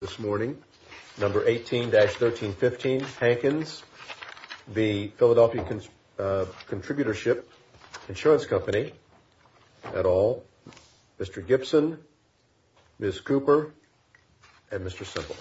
This morning, number 18-1315 Hankins, the Philadelphia Contributorship Insurance Company, et al., Mr. Gibson, Ms. Cooper, and Mr. Semple. This morning, number 18-1315 Hankins, the Philadelphia Contributorship Insurance Company, et al., Mr. Gibson, Ms. Cooper, and Mr. Semple.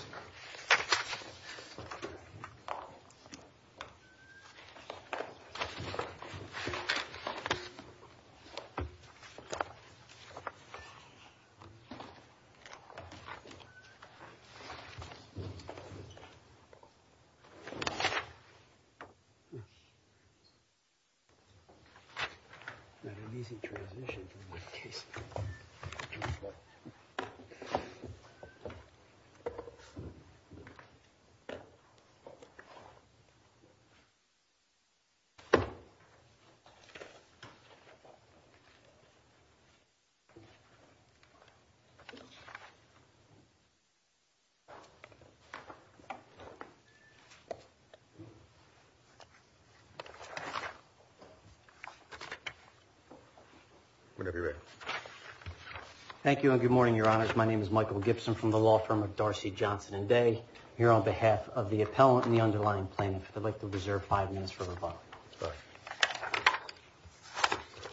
Thank you, and good morning, Your Honors. My name is Michael Gibson from the law firm of Darcy, Johnson & Day. I'm here on behalf of the appellant and the underlying plaintiff. I'd like to reserve five minutes for rebuttal.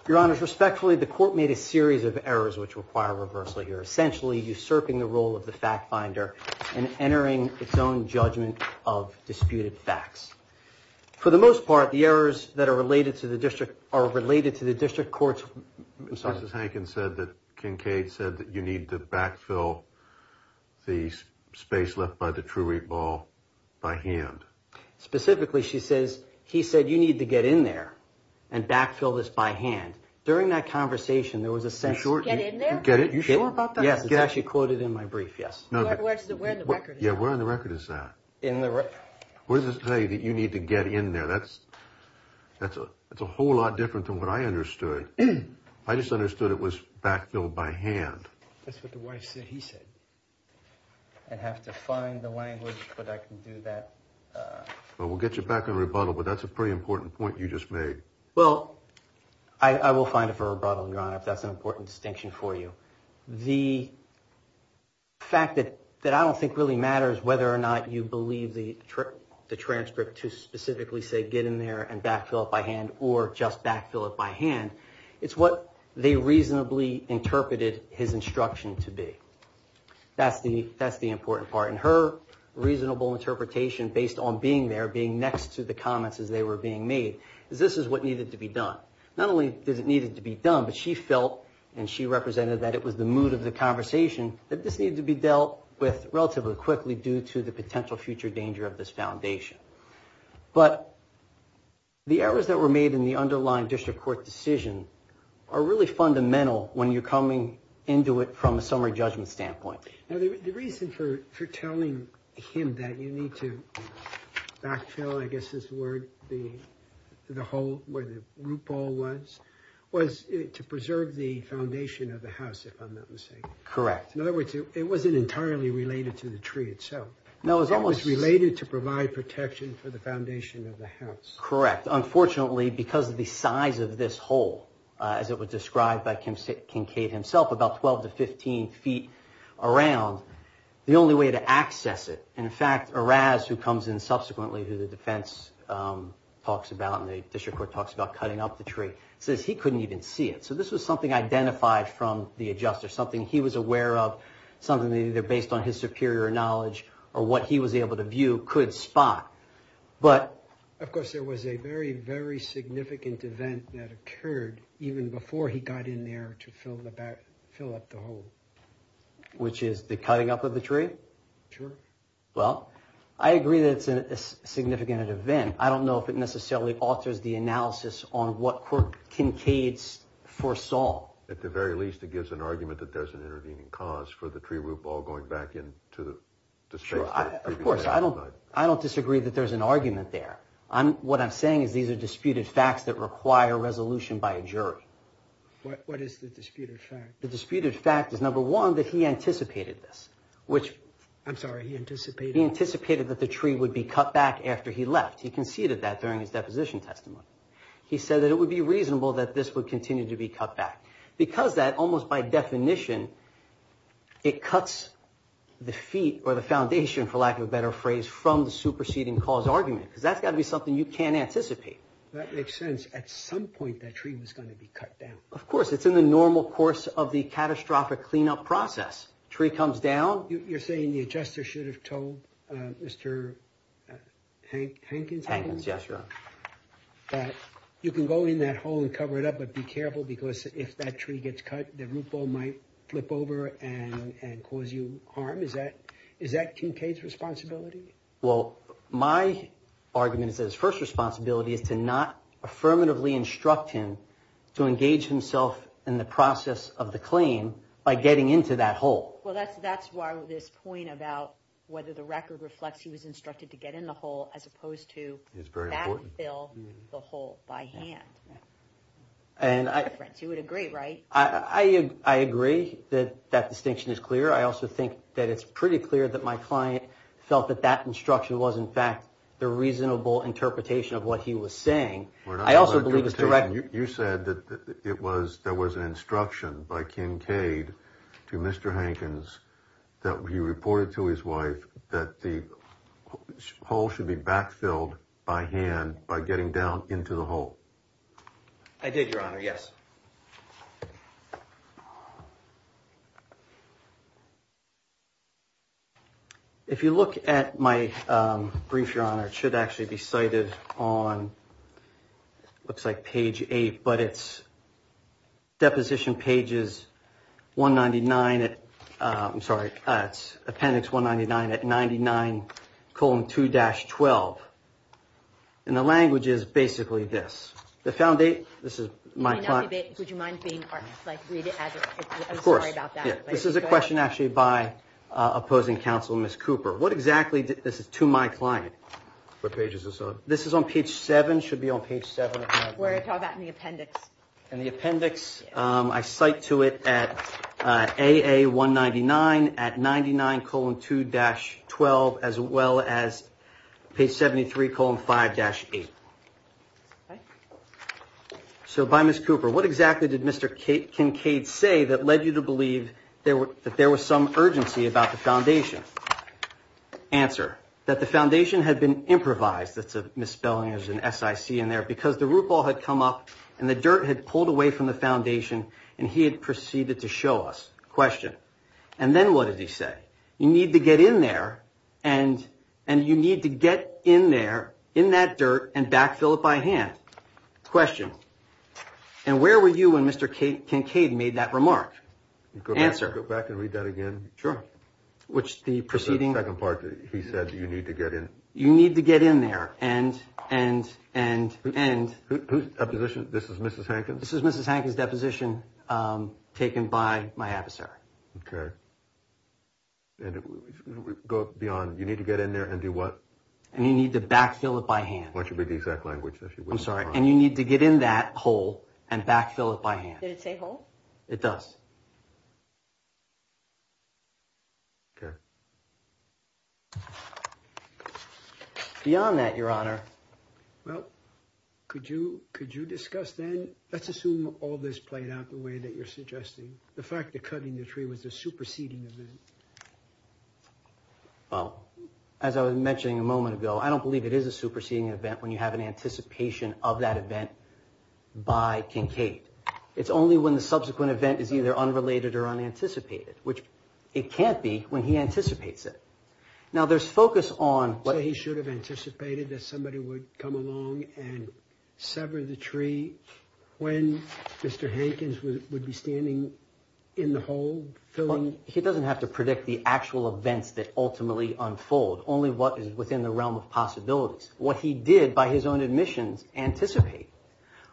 Your Honors, respectfully, the court made a series of errors which require reversal here, essentially usurping the role of the fact finder and entering its own judgment of disputed facts. For the most part, the errors that are related to the district are related to the district court's... Your Honors, respectfully, the court made a series of errors which require reversal here, essentially usurping the role of the district court's judgment of disputed facts. For the most part, the errors that are related to the district court's... That's what the wife said he said. I'd have to find the language, but I can do that. Well, we'll get you back on rebuttal, but that's a pretty important point you just made. Well, I will find it for rebuttal, Your Honor, if that's an important distinction for you. The fact that I don't think really matters whether or not you believe the transcript to specifically say get in there and backfill it by hand or just backfill it by hand. It's what they reasonably interpreted his instruction to be. That's the important part. Her reasonable interpretation based on being there, being next to the comments as they were being made, is this is what needed to be done. Not only did it need to be done, but she felt and she represented that it was the mood of the conversation that this needed to be dealt with relatively quickly due to the potential future danger of this foundation. But the errors that were made in the underlying district court decision are really fundamental when you're coming into it from a summary judgment standpoint. Now, the reason for telling him that you need to backfill, I guess is the word, the hole where the root ball was, was to preserve the foundation of the house, if I'm not mistaken. In other words, it wasn't entirely related to the tree itself. It was related to provide protection for the foundation of the house. Of course, there was a very, very significant event that occurred even before he got in there to fill up the hole. Which is the cutting up of the tree? Sure. Well, I agree that it's a significant event. I don't know if it necessarily alters the analysis on what court kinkades foresaw. At the very least, it gives an argument that there's an intervening cause for the tree root ball going back into the space. Of course, I don't disagree that there's an argument there. What I'm saying is these are disputed facts that require resolution by a jury. What is the disputed fact? The disputed fact is, number one, that he anticipated this. I'm sorry, he anticipated? He anticipated that the tree would be cut back after he left. He conceded that during his deposition testimony. He said that it would be reasonable that this would continue to be cut back. Because of that, almost by definition, it cuts the feet or the foundation, for lack of a better phrase, from the superseding cause argument. Because that's got to be something you can't anticipate. That makes sense. At some point, that tree was going to be cut down. Of course. It's in the normal course of the catastrophic cleanup process. Tree comes down. You're saying the adjuster should have told Mr. Hankins? Hankins, yes, Your Honor. That you can go in that hole and cover it up, but be careful because if that tree gets cut, the root ball might flip over and cause you harm. Is that Kincaid's responsibility? Well, my argument is that his first responsibility is to not affirmatively instruct him to engage himself in the process of the claim by getting into that hole. Well, that's why this point about whether the record reflects he was instructed to get in the hole as opposed to backfill the hole by hand. You would agree, right? I agree that that distinction is clear. I also think that it's pretty clear that my client felt that that instruction was, in fact, the reasonable interpretation of what he was saying. You said that there was an instruction by Kincaid to Mr. Hankins that he reported to his wife that the hole should be backfilled by hand by getting down into the hole. I did, Your Honor, yes. If you look at my brief, Your Honor, it should actually be cited on, looks like page 8, but it's deposition pages 199 at, I'm sorry, it's appendix 199 at 99 colon 2 dash 12. And the language is basically this. Would you mind reading it? Of course. I'm sorry about that. This is a question actually by opposing counsel, Ms. Cooper. What exactly, this is to my client. What page is this on? This is on page 7, should be on page 7. We're talking about the appendix. And the appendix, I cite to it at AA199 at 99 colon 2 dash 12 as well as page 73 colon 5 dash 8. So by Ms. Cooper, what exactly did Mr. Kincaid say that led you to believe that there was some urgency about the foundation? Answer. That the foundation had been improvised, that's a misspelling, there's an SIC in there, because the root ball had come up and the dirt had pulled away from the foundation and he had proceeded to show us. Question. And then what did he say? You need to get in there and you need to get in there, in that dirt, and backfill it by hand. Question. And where were you when Mr. Kincaid made that remark? Answer. Go back and read that again. Sure. Which the proceeding. The second part, he said you need to get in. You need to get in there and, and, and, and. Whose deposition? This is Mrs. Hankins? This is Mrs. Hankins' deposition taken by my adversary. Okay. Go beyond, you need to get in there and do what? And you need to backfill it by hand. That should be the exact language. I'm sorry. And you need to get in that hole and backfill it by hand. Did it say hole? It does. Okay. Beyond that, Your Honor. Well, could you, could you discuss then, let's assume all this played out the way that you're suggesting. The fact that cutting the tree was a superseding event. Well, as I was mentioning a moment ago, I don't believe it is a superseding event when you have an anticipation of that event by Kincaid. It's only when the subsequent event is either unrelated or unanticipated, which it can't be when he anticipates it. Now, there's focus on. So he should have anticipated that somebody would come along and sever the tree when Mr. Hankins would be standing in the hole filling. He doesn't have to predict the actual events that ultimately unfold. Only what is within the realm of possibilities. What he did by his own admissions anticipate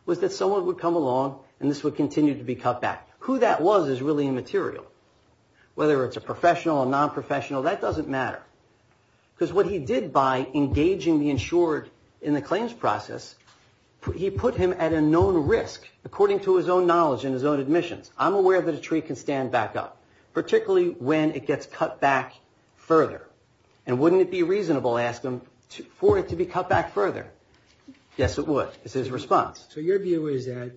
was that someone would come along and this would continue to be cut back. Who that was is really immaterial. Whether it's a professional or nonprofessional, that doesn't matter. Because what he did by engaging the insured in the claims process, he put him at a known risk according to his own knowledge and his own admissions. I'm aware that a tree can stand back up, particularly when it gets cut back further. And wouldn't it be reasonable, ask him, for it to be cut back further? Yes, it would. It's his response. So your view is that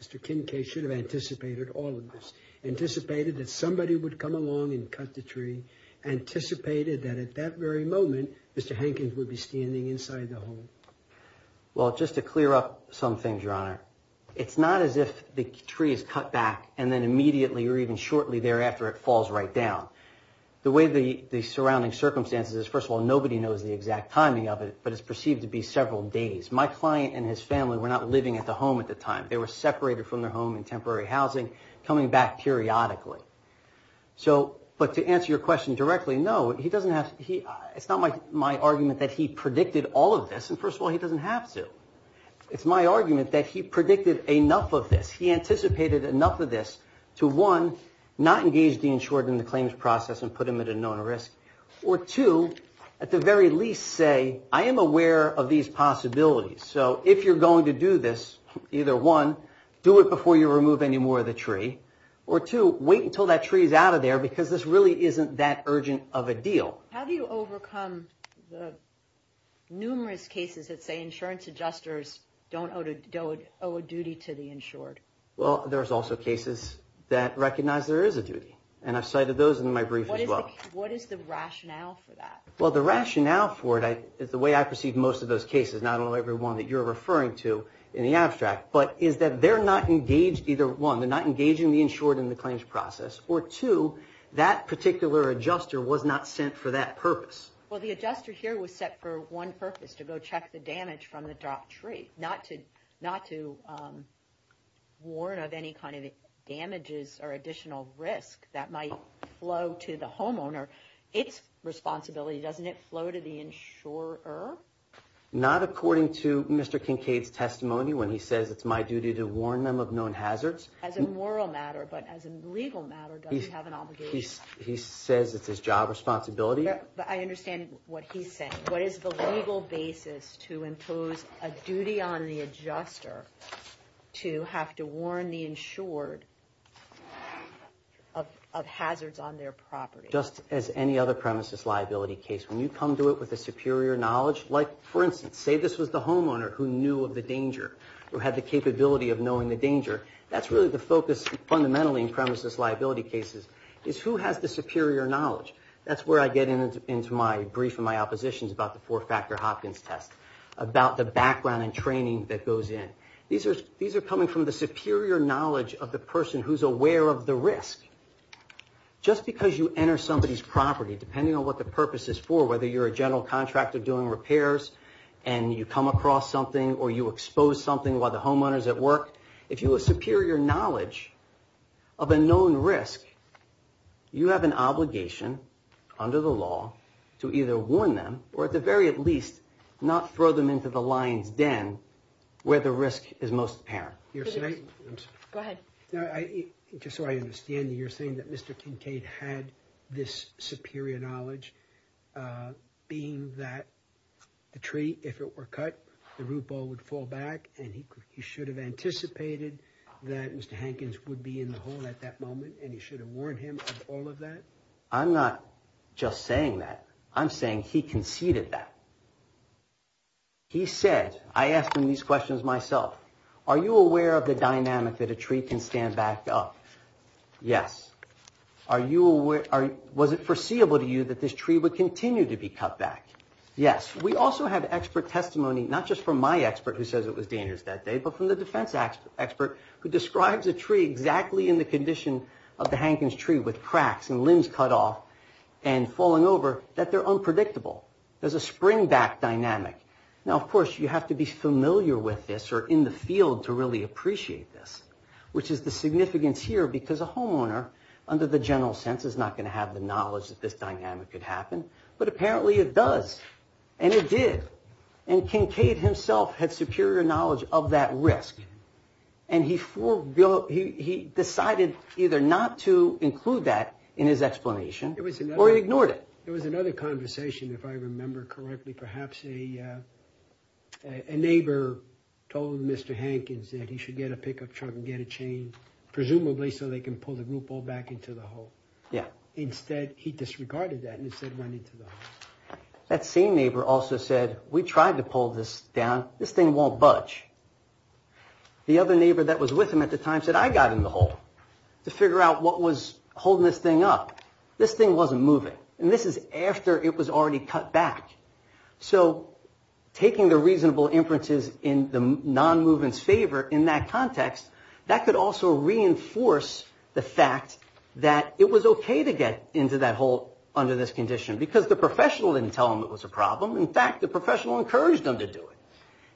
Mr. Kincaid should have anticipated all of this, anticipated that somebody would come along and cut the tree, anticipated that at that very moment, Mr. Hankins would be standing inside the hole. Well, just to clear up some things, your honor. It's not as if the tree is cut back and then immediately or even shortly thereafter, it falls right down. The way the surrounding circumstances is, first of all, nobody knows the exact timing of it, but it's perceived to be several days. My client and his family were not living at the home at the time. They were separated from their home in temporary housing, coming back periodically. But to answer your question directly, no. It's not my argument that he predicted all of this. And first of all, he doesn't have to. It's my argument that he predicted enough of this. One, not engage the insured in the claims process and put them at a known risk. Or two, at the very least say, I am aware of these possibilities. So if you're going to do this, either one, do it before you remove any more of the tree, or two, wait until that tree is out of there because this really isn't that urgent of a deal. How do you overcome the numerous cases that say insurance adjusters don't owe a duty to the insured? Well, there's also cases that recognize there is a duty, and I've cited those in my brief as well. What is the rationale for that? Well, the rationale for it is the way I perceive most of those cases, not only every one that you're referring to in the abstract, but is that they're not engaged either, one, they're not engaging the insured in the claims process, or two, that particular adjuster was not sent for that purpose. Well, the adjuster here was set for one purpose, to go check the damage from the dropped tree, not to warn of any kind of damages or additional risk that might flow to the homeowner. It's responsibility, doesn't it, flow to the insurer? Not according to Mr. Kincaid's testimony when he says it's my duty to warn them of known hazards. As a moral matter, but as a legal matter, does he have an obligation? He says it's his job responsibility. I understand what he's saying. What is the legal basis to impose a duty on the adjuster to have to warn the insured of hazards on their property? Just as any other premises liability case, when you come to it with a superior knowledge, like, for instance, say this was the homeowner who knew of the danger, or had the capability of knowing the danger, that's really the focus fundamentally in premises liability cases, is who has the superior knowledge? That's where I get into my brief in my oppositions about the four-factor Hopkins test, about the background and training that goes in. These are coming from the superior knowledge of the person who's aware of the risk. Just because you enter somebody's property, depending on what the purpose is for, whether you're a general contractor doing repairs and you come across something or you expose something while the homeowner's at work, if you have superior knowledge of a known risk, you have an obligation under the law to either warn them or at the very least not throw them into the lion's den where the risk is most apparent. Go ahead. Just so I understand, you're saying that Mr. Kincaid had this superior knowledge, being that the tree, if it were cut, the root ball would fall back and he should have anticipated that Mr. Hankins would be in the hole at that moment and he should have warned him of all of that? I'm not just saying that. I'm saying he conceded that. He said, I asked him these questions myself, are you aware of the dynamic that a tree can stand back up? Yes. Was it foreseeable to you that this tree would continue to be cut back? Yes. We also have expert testimony, not just from my expert who says it was dangerous that day, but from the defense expert who describes a tree exactly in the condition of the Hankins tree with cracks and limbs cut off and falling over, that they're unpredictable. There's a springback dynamic. Now, of course, you have to be familiar with this or in the field to really appreciate this, which is the significance here because a homeowner, under the general sense, is not going to have the knowledge that this dynamic could happen, but apparently it does, and it did. And Kincaid himself had superior knowledge of that risk and he decided either not to include that in his explanation or he ignored it. There was another conversation, if I remember correctly, perhaps a neighbor told Mr. Hankins that he should get a pickup truck and get a chain, presumably so they can pull the root ball back into the hole. Instead, he disregarded that and instead went into the hole. That same neighbor also said, we tried to pull this down. This thing won't budge. The other neighbor that was with him at the time said, I got in the hole to figure out what was holding this thing up. This thing wasn't moving, and this is after it was already cut back. So taking the reasonable inferences in the non-movement's favor in that context, that could also reinforce the fact that it was okay to get into that hole under this condition because the professional didn't tell him it was a problem. In fact, the professional encouraged him to do it.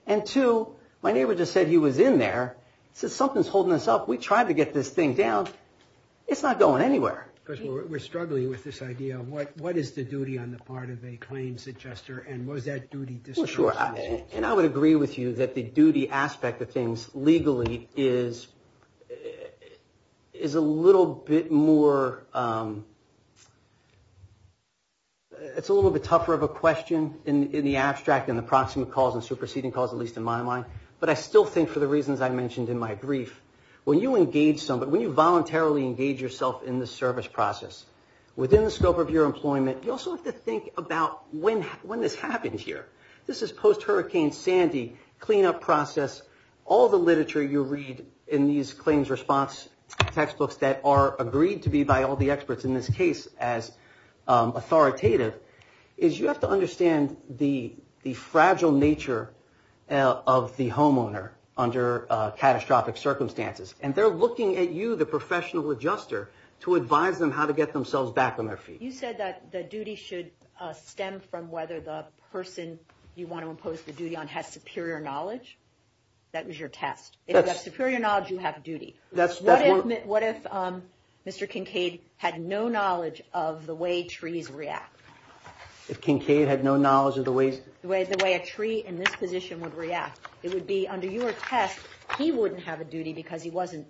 And two, my neighbor just said he was in there, said something's holding us up. We tried to get this thing down. It's not going anywhere. Because we're struggling with this idea of what is the duty on the part of a claims adjuster and was that duty discussed? Well, sure. And I would agree with you that the duty aspect of things legally is a little bit more, it's a little bit tougher of a question in the abstract and the proximate cause and superseding cause, at least in my mind. But I still think for the reasons I mentioned in my brief, when you engage somebody, when you voluntarily engage yourself in the service process, within the scope of your employment, you also have to think about when this happened here. This is post-Hurricane Sandy cleanup process. All the literature you read in these claims response textbooks that are agreed to be by all the experts, in this case as authoritative, is you have to understand the fragile nature of the homeowner under catastrophic circumstances. And they're looking at you, the professional adjuster, to advise them how to get themselves back on their feet. You said that the duty should stem from whether the person you want to impose the duty on has superior knowledge. That was your test. If you have superior knowledge, you have duty. What if Mr. Kincaid had no knowledge of the way trees react? If Kincaid had no knowledge of the ways? The way a tree in this position would react. It would be under your test, he wouldn't have a duty because he wasn't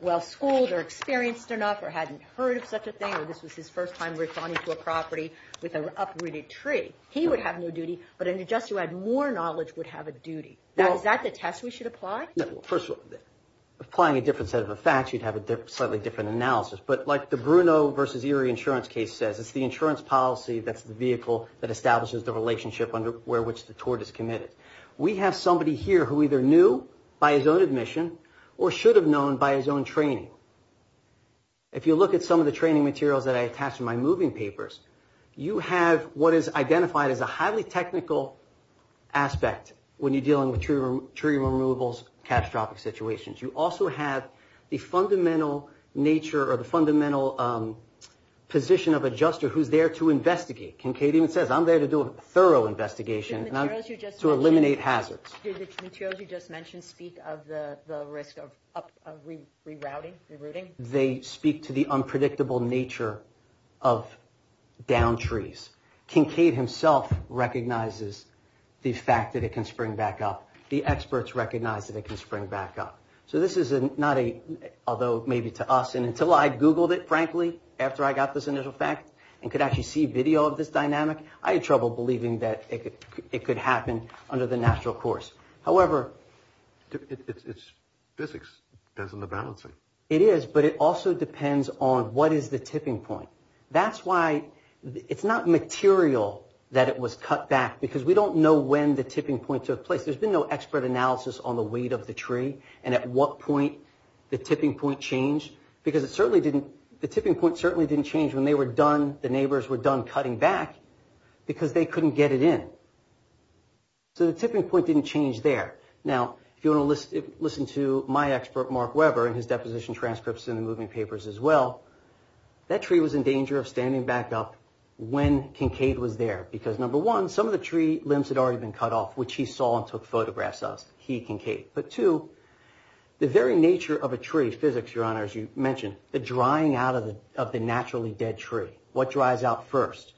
well-schooled or experienced enough or hadn't heard of such a thing, or this was his first time referring to a property with an uprooted tree. He would have no duty, but an adjuster who had more knowledge would have a duty. Is that the test we should apply? First of all, applying a different set of facts, you'd have a slightly different analysis. But like the Bruno versus Erie insurance case says, it's the insurance policy that's the vehicle that establishes the relationship under which the tort is committed. We have somebody here who either knew by his own admission or should have known by his own training. If you look at some of the training materials that I attached in my moving papers, you have what is identified as a highly technical aspect when you're dealing with tree removals, catastrophic situations. You also have the fundamental nature or the fundamental position of adjuster who's there to investigate. Kincaid even says, I'm there to do a thorough investigation. To eliminate hazards. Did the materials you just mentioned speak of the risk of rerouting? They speak to the unpredictable nature of downed trees. Kincaid himself recognizes the fact that it can spring back up. The experts recognize that it can spring back up. So this is not a, although maybe to us, and until I Googled it, frankly, after I got this initial fact and could actually see video of this dynamic, I had trouble believing that it could happen under the natural course. However, it's physics. It depends on the balancing. It is, but it also depends on what is the tipping point. That's why it's not material that it was cut back because we don't know when the tipping point took place. There's been no expert analysis on the weight of the tree and at what point the tipping point changed because it certainly didn't, the tipping point certainly didn't change when they were done, the neighbors were done cutting back because they couldn't get it in. So the tipping point didn't change there. Now, if you want to listen to my expert, Mark Weber, and his deposition transcripts in the moving papers as well, that tree was in danger of standing back up when Kincaid was there because, number one, some of the tree limbs had already been cut off, which he saw and took photographs of. He, Kincaid. But two, the very nature of a tree, physics, Your Honor, as you mentioned, the drying out of the naturally dead tree. What dries out first?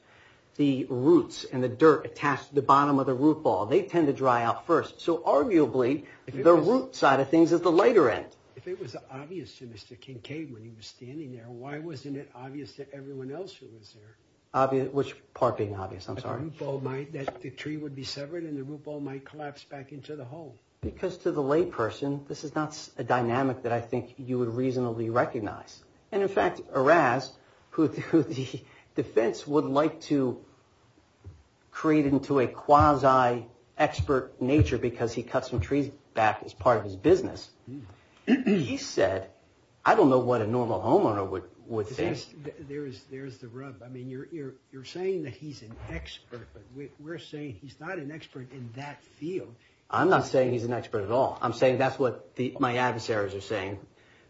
The roots and the dirt attached to the bottom of the root ball. They tend to dry out first. So arguably, the root side of things is the later end. If it was obvious to Mr. Kincaid when he was standing there, why wasn't it obvious to everyone else who was there? Which part being obvious? I'm sorry. That the tree would be severed and the root ball might collapse back into the hole. Because to the layperson, this is not a dynamic that I think you would reasonably recognize. And, in fact, Eraz, who the defense would like to create into a quasi-expert nature because he cut some trees back as part of his business, he said, I don't know what a normal homeowner would think. There's the rub. I mean, you're saying that he's an expert, but we're saying he's not an expert in that field. I'm not saying he's an expert at all. I'm saying that's what my adversaries are saying.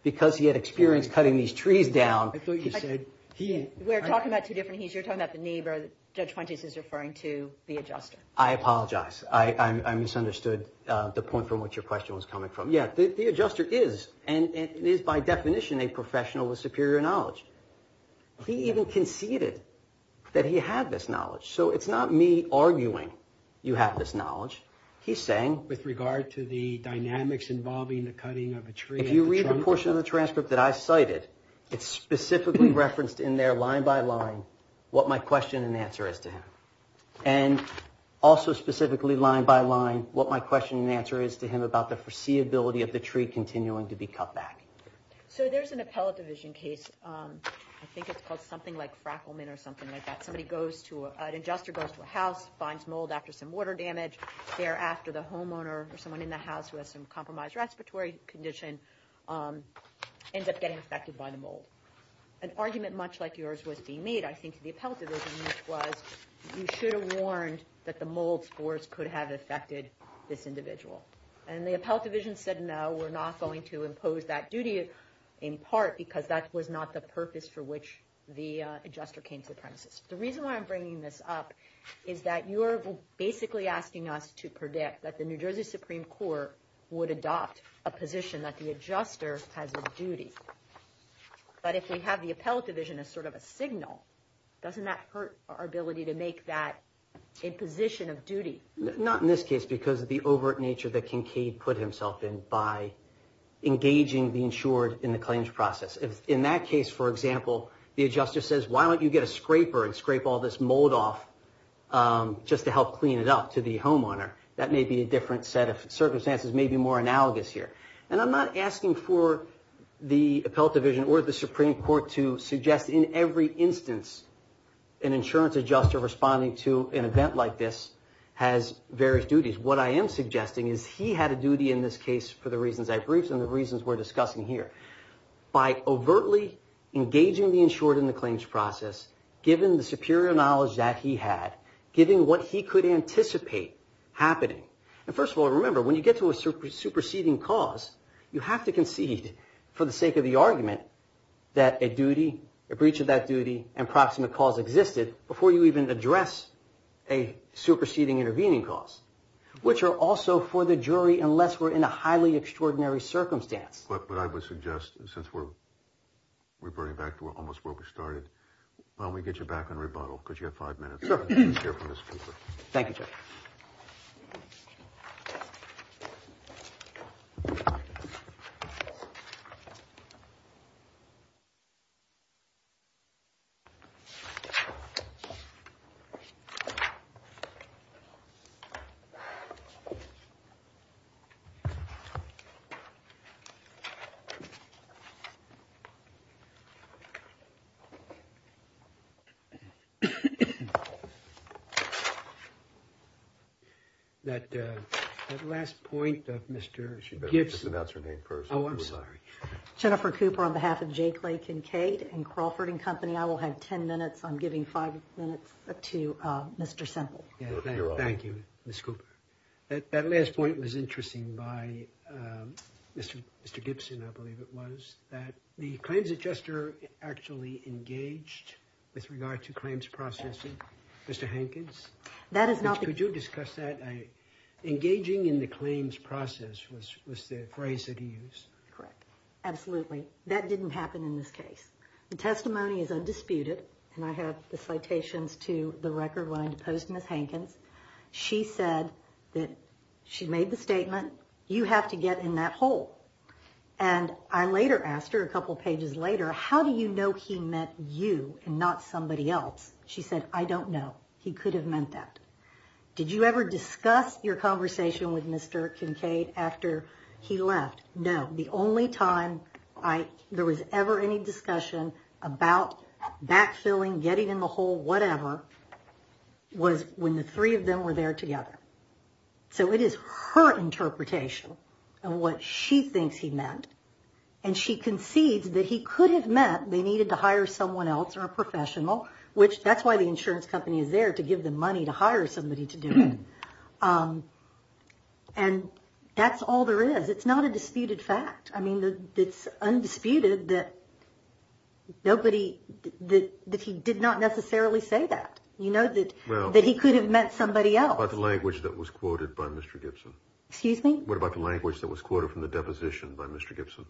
Because he had experience cutting these trees down. I thought you said he. We're talking about two different he's. You're talking about the neighbor that Judge Fuentes is referring to, the adjuster. I apologize. I misunderstood the point from which your question was coming from. Yeah, the adjuster is, and is by definition, a professional with superior knowledge. He even conceded that he had this knowledge. So it's not me arguing you have this knowledge. He's saying. With regard to the dynamics involving the cutting of a tree. If you read the portion of the transcript that I cited, it's specifically referenced in there line by line what my question and answer is to him. And also specifically line by line what my question and answer is to him about the foreseeability of the tree continuing to be cut back. So there's an appellate division case. I think it's called something like Frackelman or something like that. Somebody goes to an adjuster, goes to a house, finds mold after some water damage. Thereafter, the homeowner or someone in the house who has some compromised respiratory condition ends up getting affected by the mold. An argument much like yours was being made, I think, to the appellate division, which was you should have warned that the mold spores could have affected this individual. And the appellate division said, no, we're not going to impose that duty in part because that was not the purpose for which the adjuster came to the premises. The reason why I'm bringing this up is that you're basically asking us to predict that the New Jersey Supreme Court would adopt a position that the adjuster has a duty. But if we have the appellate division as sort of a signal, doesn't that hurt our ability to make that imposition of duty? Not in this case because of the overt nature that Kincaid put himself in by engaging the insured in the claims process. In that case, for example, the adjuster says, why don't you get a scraper and scrape all this mold off just to help clean it up to the homeowner. That may be a different set of circumstances, maybe more analogous here. And I'm not asking for the appellate division or the Supreme Court to suggest in every instance an insurance adjuster responding to an event like this has various duties. What I am suggesting is he had a duty in this case for the reasons I briefed and the reasons we're discussing here. By overtly engaging the insured in the claims process, given the superior knowledge that he had, given what he could anticipate happening. And first of all, remember, when you get to a superseding cause, you have to concede for the sake of the argument that a duty, a breach of that duty, and proximate cause existed before you even address a superseding intervening cause, which are also for the jury unless we're in a highly extraordinary circumstance. But I would suggest, since we're burning back to almost where we started, why don't we get you back on rebuttal because you have five minutes. Thank you. That last point of Mr. Gibson. Oh, I'm sorry. Jennifer Cooper on behalf of Jake Lake and Kate and Crawford and Company. I will have 10 minutes. I'm giving five minutes to Mr. Semple. Thank you, Ms. Cooper. That last point was interesting by Mr. Gibson, I believe it was, that the claims adjuster actually engaged with regard to claims processing. Mr. Hankins, could you discuss that? Engaging in the claims process was the phrase that he used. Correct. Absolutely. That didn't happen in this case. The testimony is undisputed. And I have the citations to the record line opposed to Ms. Hankins. She said that she made the statement, you have to get in that hole. And I later asked her a couple of pages later, how do you know he meant you and not somebody else? She said, I don't know. He could have meant that. Did you ever discuss your conversation with Mr. Kincaid after he left? No. The only time there was ever any discussion about backfilling, getting in the hole, whatever, was when the three of them were there together. So it is her interpretation of what she thinks he meant. And she concedes that he could have meant they needed to hire someone else or a professional, which that's why the insurance company is there, to give them money to hire somebody to do it. And that's all there is. It's not a disputed fact. I mean, it's undisputed that nobody, that he did not necessarily say that. You know that he could have meant somebody else. What about the language that was quoted by Mr. Gibson? Excuse me? What about the language that was quoted from the deposition by Mr. Gibson?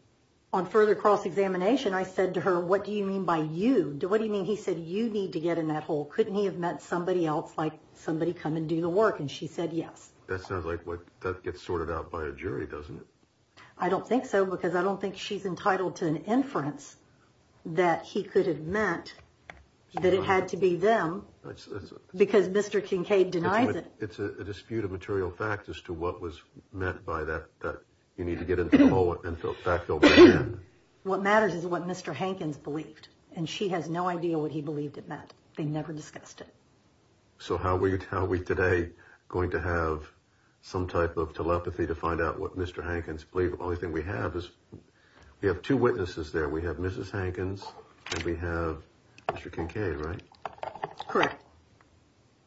On further cross-examination, I said to her, what do you mean by you? What do you mean he said you need to get in that hole? Couldn't he have meant somebody else, like somebody come and do the work? And she said yes. That sounds like that gets sorted out by a jury, doesn't it? I don't think so, because I don't think she's entitled to an inference that he could have meant that it had to be them, because Mr. Kincaid denies it. It's a dispute of material fact as to what was meant by that, that you need to get into the hole and backfill back in. What matters is what Mr. Hankins believed, and she has no idea what he believed it meant. They never discussed it. So how are we today going to have some type of telepathy to find out what Mr. Hankins believed? The only thing we have is we have two witnesses there. We have Mrs. Hankins and we have Mr. Kincaid, right? Correct.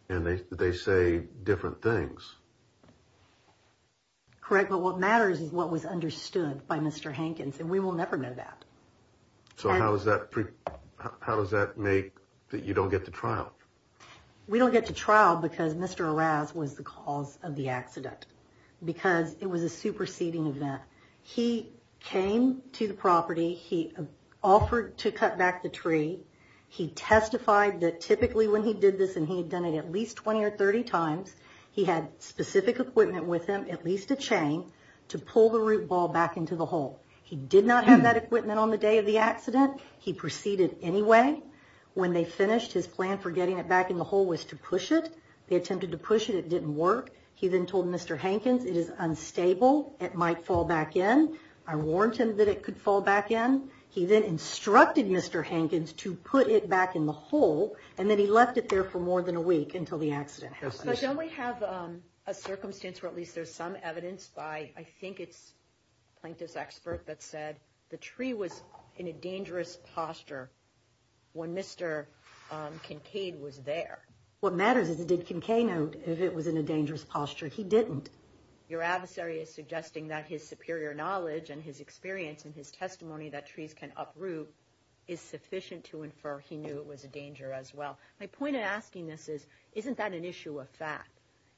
And they say different things. Correct, but what matters is what was understood by Mr. Hankins, and we will never know that. So how does that make that you don't get to trial? We don't get to trial because Mr. Araz was the cause of the accident, because it was a superseding event. He came to the property. He offered to cut back the tree. He testified that typically when he did this, and he had done it at least 20 or 30 times, he had specific equipment with him, at least a chain, to pull the root ball back into the hole. He did not have that equipment on the day of the accident. He proceeded anyway. When they finished, his plan for getting it back in the hole was to push it. They attempted to push it. It didn't work. He then told Mr. Hankins, it is unstable, it might fall back in. I warned him that it could fall back in. He then instructed Mr. Hankins to put it back in the hole, and then he left it there for more than a week until the accident happened. But don't we have a circumstance where at least there's some evidence by, I think it's a plaintiff's expert that said the tree was in a dangerous posture when Mr. Kincaid was there? What matters is did Kincaid know if it was in a dangerous posture? He didn't. Your adversary is suggesting that his superior knowledge and his experience and his testimony that trees can uproot is sufficient to infer he knew it was a danger as well. My point in asking this is isn't that an issue of fact?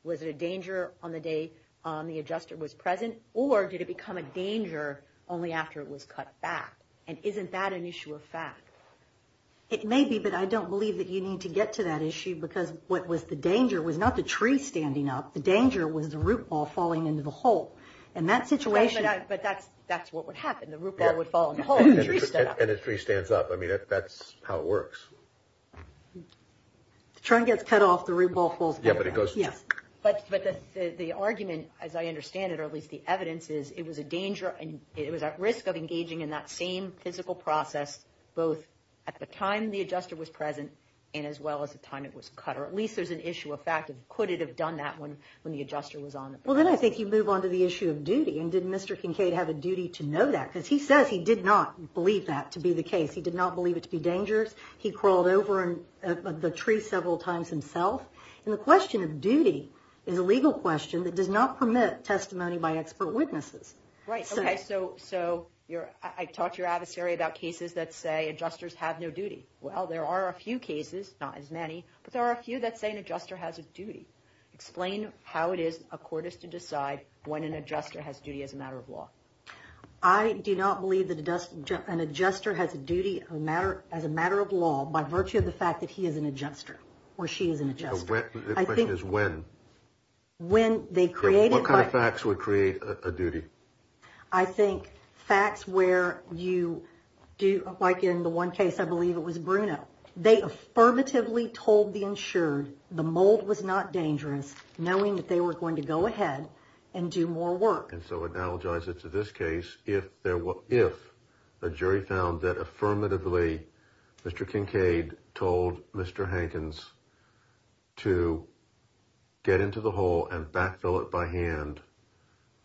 Was it a danger on the day the adjuster was present, or did it become a danger only after it was cut back? And isn't that an issue of fact? It may be, but I don't believe that you need to get to that issue because what was the danger was not the tree standing up. The danger was the root ball falling into the hole. But that's what would happen. The root ball would fall in the hole and the tree stood up. And the tree stands up. I mean, that's how it works. The trunk gets cut off, the root ball falls back down. But the argument, as I understand it, or at least the evidence is it was at risk of engaging in that same physical process both at the time the adjuster was present and as well as the time it was cut, or at least there's an issue of fact. How could it have done that when the adjuster was on? Well, then I think you move on to the issue of duty. And did Mr. Kincaid have a duty to know that? Because he says he did not believe that to be the case. He did not believe it to be dangerous. He crawled over the tree several times himself. And the question of duty is a legal question that does not permit testimony by expert witnesses. Right, okay. So I talked to your adversary about cases that say adjusters have no duty. Well, there are a few cases, not as many, but there are a few that say an adjuster has a duty. Explain how it is a court is to decide when an adjuster has a duty as a matter of law. I do not believe that an adjuster has a duty as a matter of law by virtue of the fact that he is an adjuster or she is an adjuster. The question is when. When they created. What kind of facts would create a duty? I think facts where you do, like in the one case, I believe it was Bruno. They affirmatively told the insured the mold was not dangerous, knowing that they were going to go ahead and do more work. And so analogize it to this case. If there were, if a jury found that affirmatively, Mr. Kincaid told Mr. Hankins to get into the hole and backfill it by hand.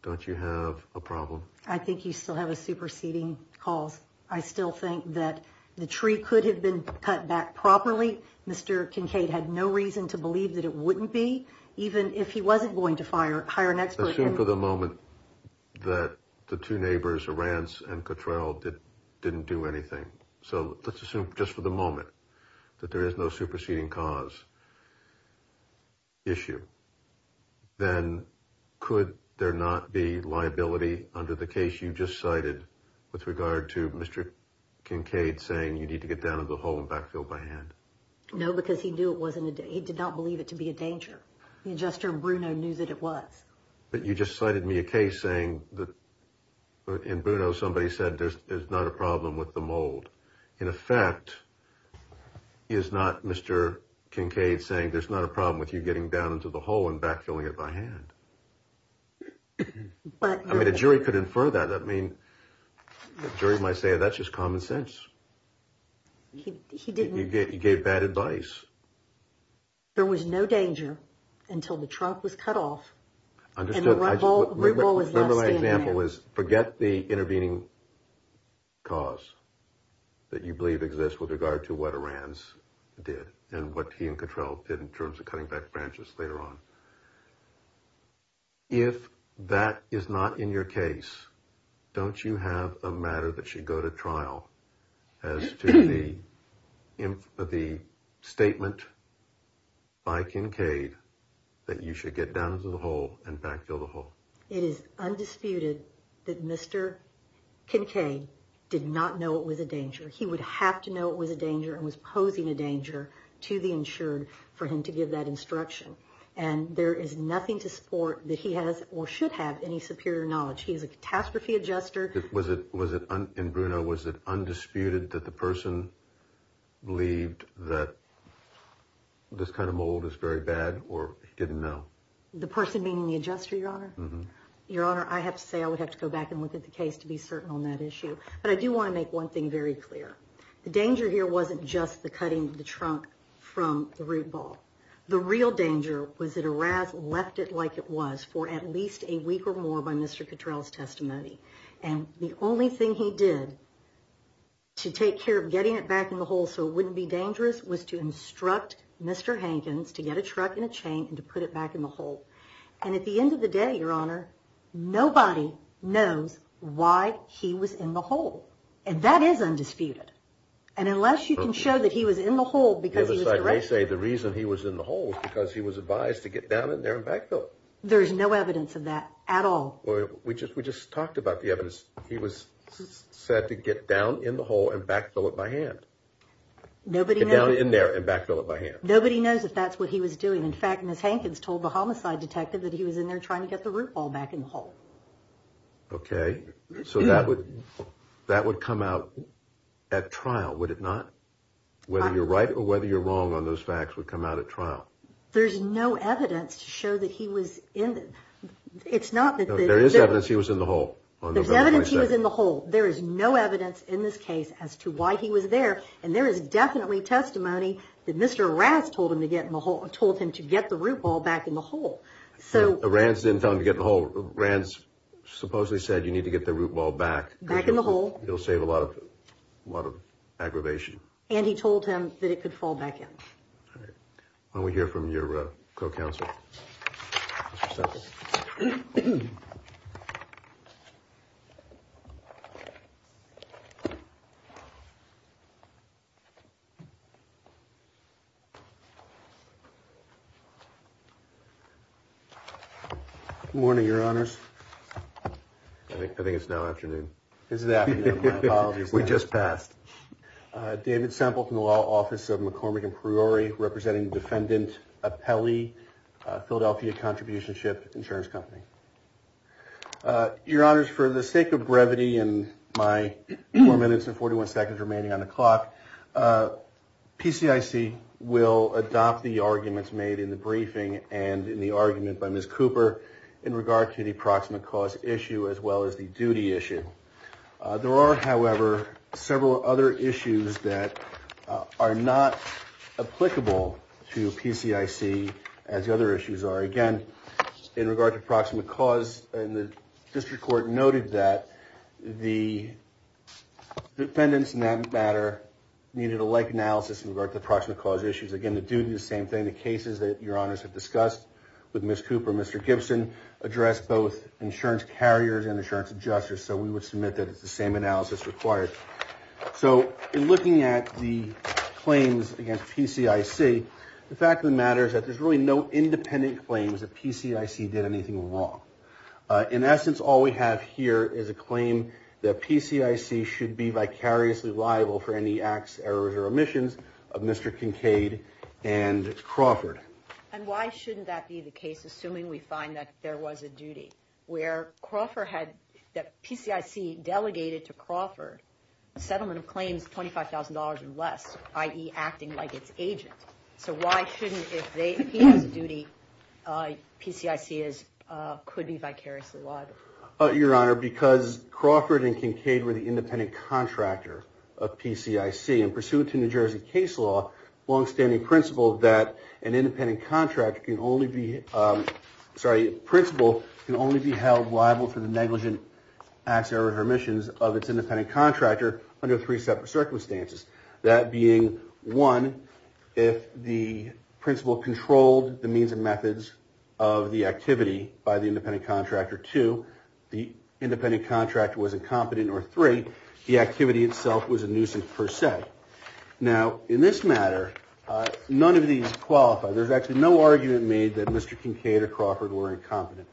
Don't you have a problem? I think you still have a superseding cause. I still think that the tree could have been cut back properly. Mr. Kincaid had no reason to believe that it wouldn't be, even if he wasn't going to fire, hire an expert. For the moment that the two neighbors, a Rance and control did didn't do anything. So let's assume just for the moment that there is no superseding cause. Issue. Then could there not be liability under the case you just cited with regard to Mr. Kincaid, saying you need to get down into the hole and backfill by hand? No, because he knew it wasn't. He did not believe it to be a danger. The adjuster Bruno knew that it was, but you just cited me a case saying that in Bruno, somebody said there's not a problem with the mold. In effect is not Mr. Kincaid saying there's not a problem with you getting down into the hole and backfilling it by hand. But I mean, the jury could infer that. I mean, the jury might say, that's just common sense. He didn't get, he gave bad advice. There was no danger until the truck was cut off. Understood. My example is, forget the intervening cause that you believe exists with regard to what Iran's did and what he and control did in terms of cutting back branches later on. If that is not in your case, don't you have a matter that should go to trial as to the, the statement by Kincaid that you should get down into the hole and backfill the hole. It is undisputed that Mr. Kincaid did not know it was a danger. He would have to know it was a danger and was posing a danger to the insured for him to give that instruction. And there is nothing to support that he has or should have any superior knowledge. He is a catastrophe adjuster. Was it, was it in Bruno? Was it undisputed that the person believed that this kind of mold is very bad or didn't know the person meaning the adjuster, your honor, your honor. I have to say, I would have to go back and look at the case to be certain on that issue. But I do want to make one thing very clear. The danger here wasn't just the cutting the trunk from the root ball. The real danger was that a rat left it like it was for at least a week or more by Mr. Catrell's testimony. And the only thing he did to take care of getting it back in the hole. So it wouldn't be dangerous was to instruct Mr. Hankins to get a truck in a chain and to put it back in the hole. And at the end of the day, your honor, nobody knows why he was in the hole. And that is undisputed. And unless you can show that he was in the hole, they say the reason he was in the hole was because he was advised to get down in there and backfill. There is no evidence of that at all. We just, we just talked about the evidence. He was said to get down in the hole and backfill it by hand. Nobody down in there and backfill it by hand. Nobody knows if that's what he was doing. In fact, Ms. Hankins told the homicide detective that he was in there trying to get the root ball back in the hole. Okay. So that would, that would come out at trial. Would it not? Whether you're right or whether you're wrong on those facts would come out at trial. There's no evidence to show that he was in it. It's not that there is evidence. He was in the hole. There's evidence. He was in the hole. There is no evidence in this case as to why he was there. And there is definitely testimony that Mr. Raz told him to get in the hole and told him to get the root ball back in the hole. So the rants didn't tell him to get the whole rants. Supposedly said, you need to get the root ball back, back in the hole. It'll save a lot of, a lot of aggravation. And he told him that it could fall back in. All right. When we hear from your co-counsel. Morning, your honors. I think, I think it's now afternoon. Is that we just passed David sample from the law office of McCormick and Priori representing defendant, a Peli Philadelphia contribution ship insurance company. Your honors for the sake of brevity and my four minutes and 41 seconds remaining on the clock. PCIC will adopt the arguments made in the briefing and in the argument by Ms. Cooper in regard to the proximate cause issue, as well as the duty issue. There are, however, several other issues that are not applicable to PCIC as the other issues are. Again, in regard to approximate cause and the district court noted that the defendants in that matter needed a like analysis in regard to the proximate cause issues. Again, the duty, the same thing, the cases that your honors have discussed with Ms. Cooper, Mr. Gibson address, both insurance carriers and insurance adjusters. So we would submit that it's the same analysis required. So in looking at the claims against PCIC, the fact of the matter is that there's really no independent claims that PCIC did anything wrong. In essence, all we have here is a claim that PCIC should be vicariously liable for any acts, errors or omissions of Mr. Kincaid and Crawford. And why shouldn't that be the case? Assuming we find that there was a duty where Crawford had that PCIC delegated to Crawford settlement of claims, $25,000 or less, i.e. acting like it's agent. So why shouldn't, if they, he has a duty, PCIC is, could be vicariously liable. Your honor, because Crawford and Kincaid were the independent contractor of PCIC and pursuant to New Jersey case law, longstanding principle that an independent contract can only be, sorry, principle can only be held liable for the negligent acts or omissions of its independent contractor under three separate circumstances. That being one, if the principle controlled the means and methods of the activity by the independent contractor to the independent contractor was incompetent or three, the activity itself was a nuisance per se. Okay. Now in this matter, none of these qualify. There's actually no argument made that Mr. Kincaid or Crawford were incompetent.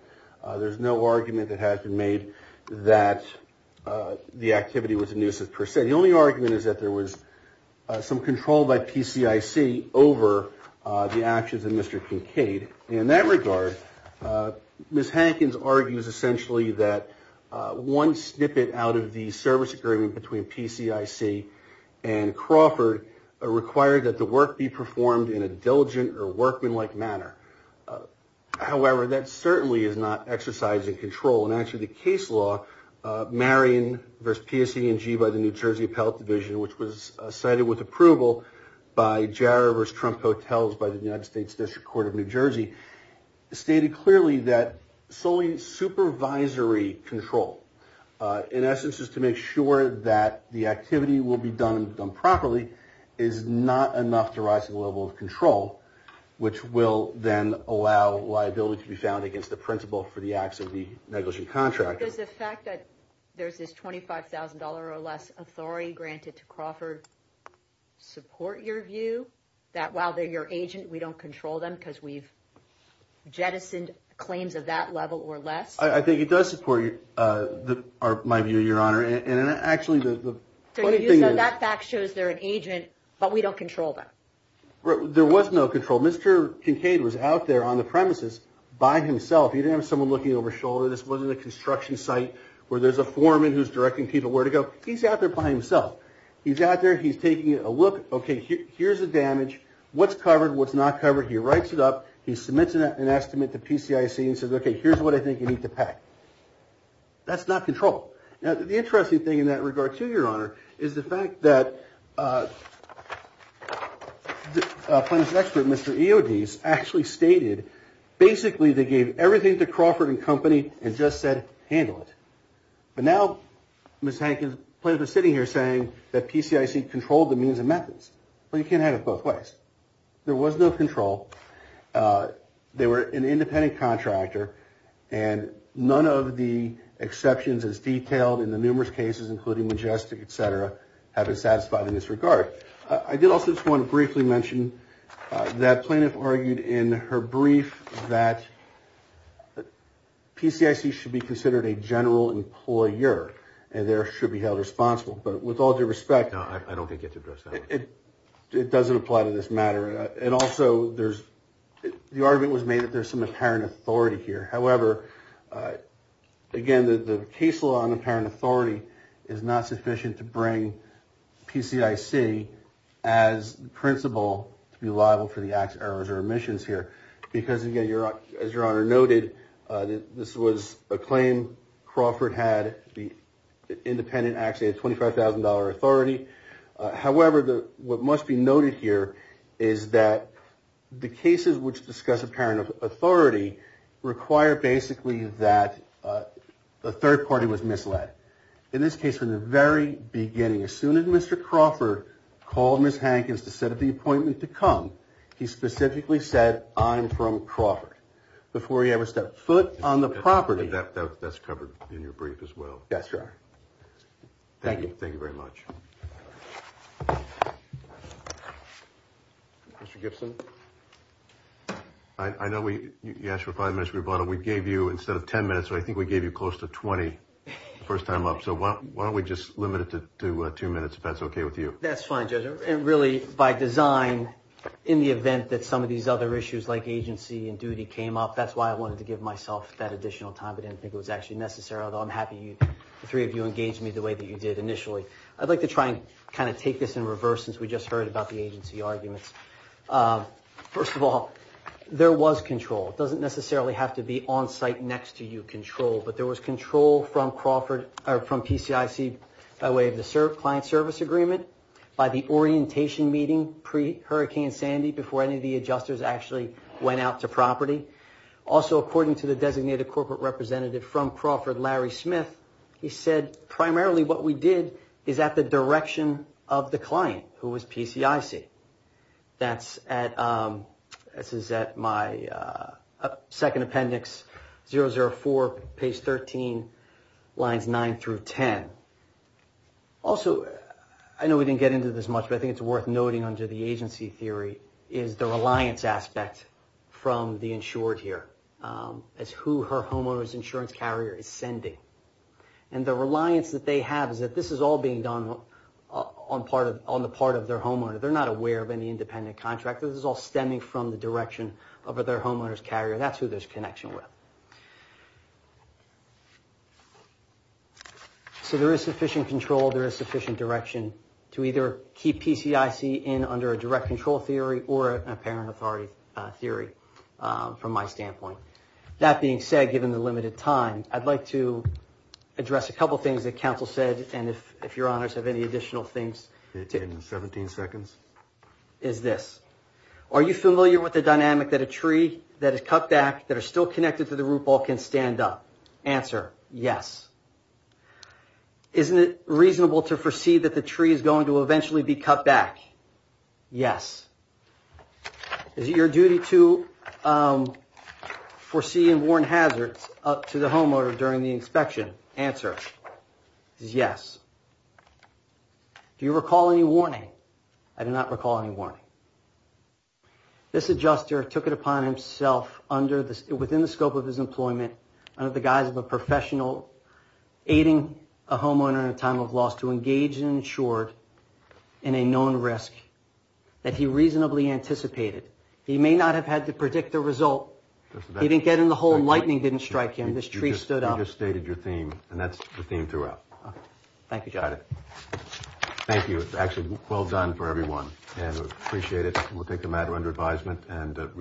There's no argument that has been made that the activity was a nuisance per se. The only argument is that there was some control by PCIC over the actions of Mr. Kincaid. And in that regard, Ms. Hankins argues essentially that one snippet out of the service agreement between PCIC and Crawford required that the work be performed in a diligent or workmanlike manner. However, that certainly is not exercising control. And actually the case law, Marion versus PSE and G by the New Jersey appellate division, which was cited with approval by Jarrah versus Trump hotels by the United States district court of New Jersey stated clearly that solely supervisory control in essence is to make sure that the activity will be done and done properly is not enough to rise to the level of control, which will then allow liability to be found against the principal for the acts of the negligent contractor. Does the fact that there's this $25,000 or less authority granted to Crawford support your view that while they're your agent, we don't control them because we've jettisoned claims of that level or less. I think it does support my view, your honor. And actually the fact shows they're an agent, but we don't control them. There was no control. Mr. Kincaid was out there on the premises by himself. He didn't have someone looking over shoulder. This wasn't a construction site where there's a foreman who's directing people where to go. He's out there by himself. He's out there. He's taking a look. Okay, here's the damage. What's covered. What's not covered. He writes it up. He submits an estimate to PCIC and says, okay, here's what I think you need to pack. That's not control. Now, the interesting thing in that regard to your honor is the fact that a plaintiff's expert, Mr. EODs actually stated basically they gave everything to Crawford and company and just said, handle it. But now Ms. Hankins played a sitting here saying that PCIC controlled the means and methods, but you can't have it both ways. There was no control. They were an independent contractor and none of the exceptions as detailed in the numerous cases, including majestic, et cetera, have been satisfied in this regard. I did also just want to briefly mention that plaintiff argued in her brief that PCIC should be considered a general employer and there should be held responsible. But with all due respect, I don't think it's addressed. It doesn't apply to this matter. And also there's, the argument was made that there's some apparent authority here. However, again, the, the case law on apparent authority is not sufficient to bring PCIC as principal to be liable for the acts, errors or emissions here, because again, you're, as your honor noted, this was a claim. Crawford had the independent actually a $25,000 authority. However, the, what must be noted here is that the cases which discuss apparent authority require basically that a third party was misled in this case from the very beginning. As soon as Mr. Crawford called Ms. Hankins to set up the appointment to come, he specifically said, I'm from Crawford before he ever stepped foot on the property. That's covered in your brief as well. That's right. Thank you. Thank you very much. Mr. Gibson. I, I know we, you asked for five minutes. We bought it. We gave you instead of 10 minutes. So I think we gave you close to 20 the first time up. So why don't we just limit it to two minutes if that's okay with you? That's fine. And really by design in the event that some of these other issues like agency and duty came up, that's why I wanted to give myself that additional time. I didn't think it was actually necessary, although I'm happy you three of you engaged me the way that you did. Initially. I'd like to try and kind of take this in reverse since we just heard about the agency arguments. First of all, there was control. It doesn't necessarily have to be on site next to you control, but there was control from Crawford or from PCIC by way of the serve client service agreement by the orientation meeting pre hurricane Sandy before any of the adjusters actually went out to property. according to the designated corporate representative from Crawford, Larry Smith, he said primarily what we did is at the direction of the client who was PCIC that's at, this is at my second appendix 004 page 13 lines nine through 10. Also, I know we didn't get into this much, but I think it's worth noting under the agency theory is the reliance aspect and the reliance that they have is that this is all being done on the part of their homeowner. They're not aware of any independent contractors. This is all stemming from the direction of their homeowners carrier. That's who there's connection with. So there is sufficient control. There is sufficient direction to either keep PCIC in under a direct control theory or an apparent authority theory from my standpoint. That being said, given the limited time, I'd like to address a couple of things that council said. And if, if your honors have any additional things in 17 seconds, is this, are you familiar with the dynamic that a tree that is cut back that are still connected to the root ball can stand up answer? Yes. Isn't it reasonable to foresee that the tree is going to eventually be cut back? Yes. Is it your duty to foresee and warn hazards up to the homeowner during the inspection? Answer is yes. Do you recall any warning? I do not recall any warning. This adjuster took it upon himself under the, within the scope of his employment, under the guise of a professional aiding a homeowner in a time of loss to engage in short in a known risk that he reasonably anticipated. He may not have had to predict the result. He didn't get in the home. Lightning didn't strike him. This tree stood up. You just stated your theme and that's the theme throughout. Thank you. Got it. Thank you. It's actually well done for everyone and appreciate it. We'll take the matter under advisement and.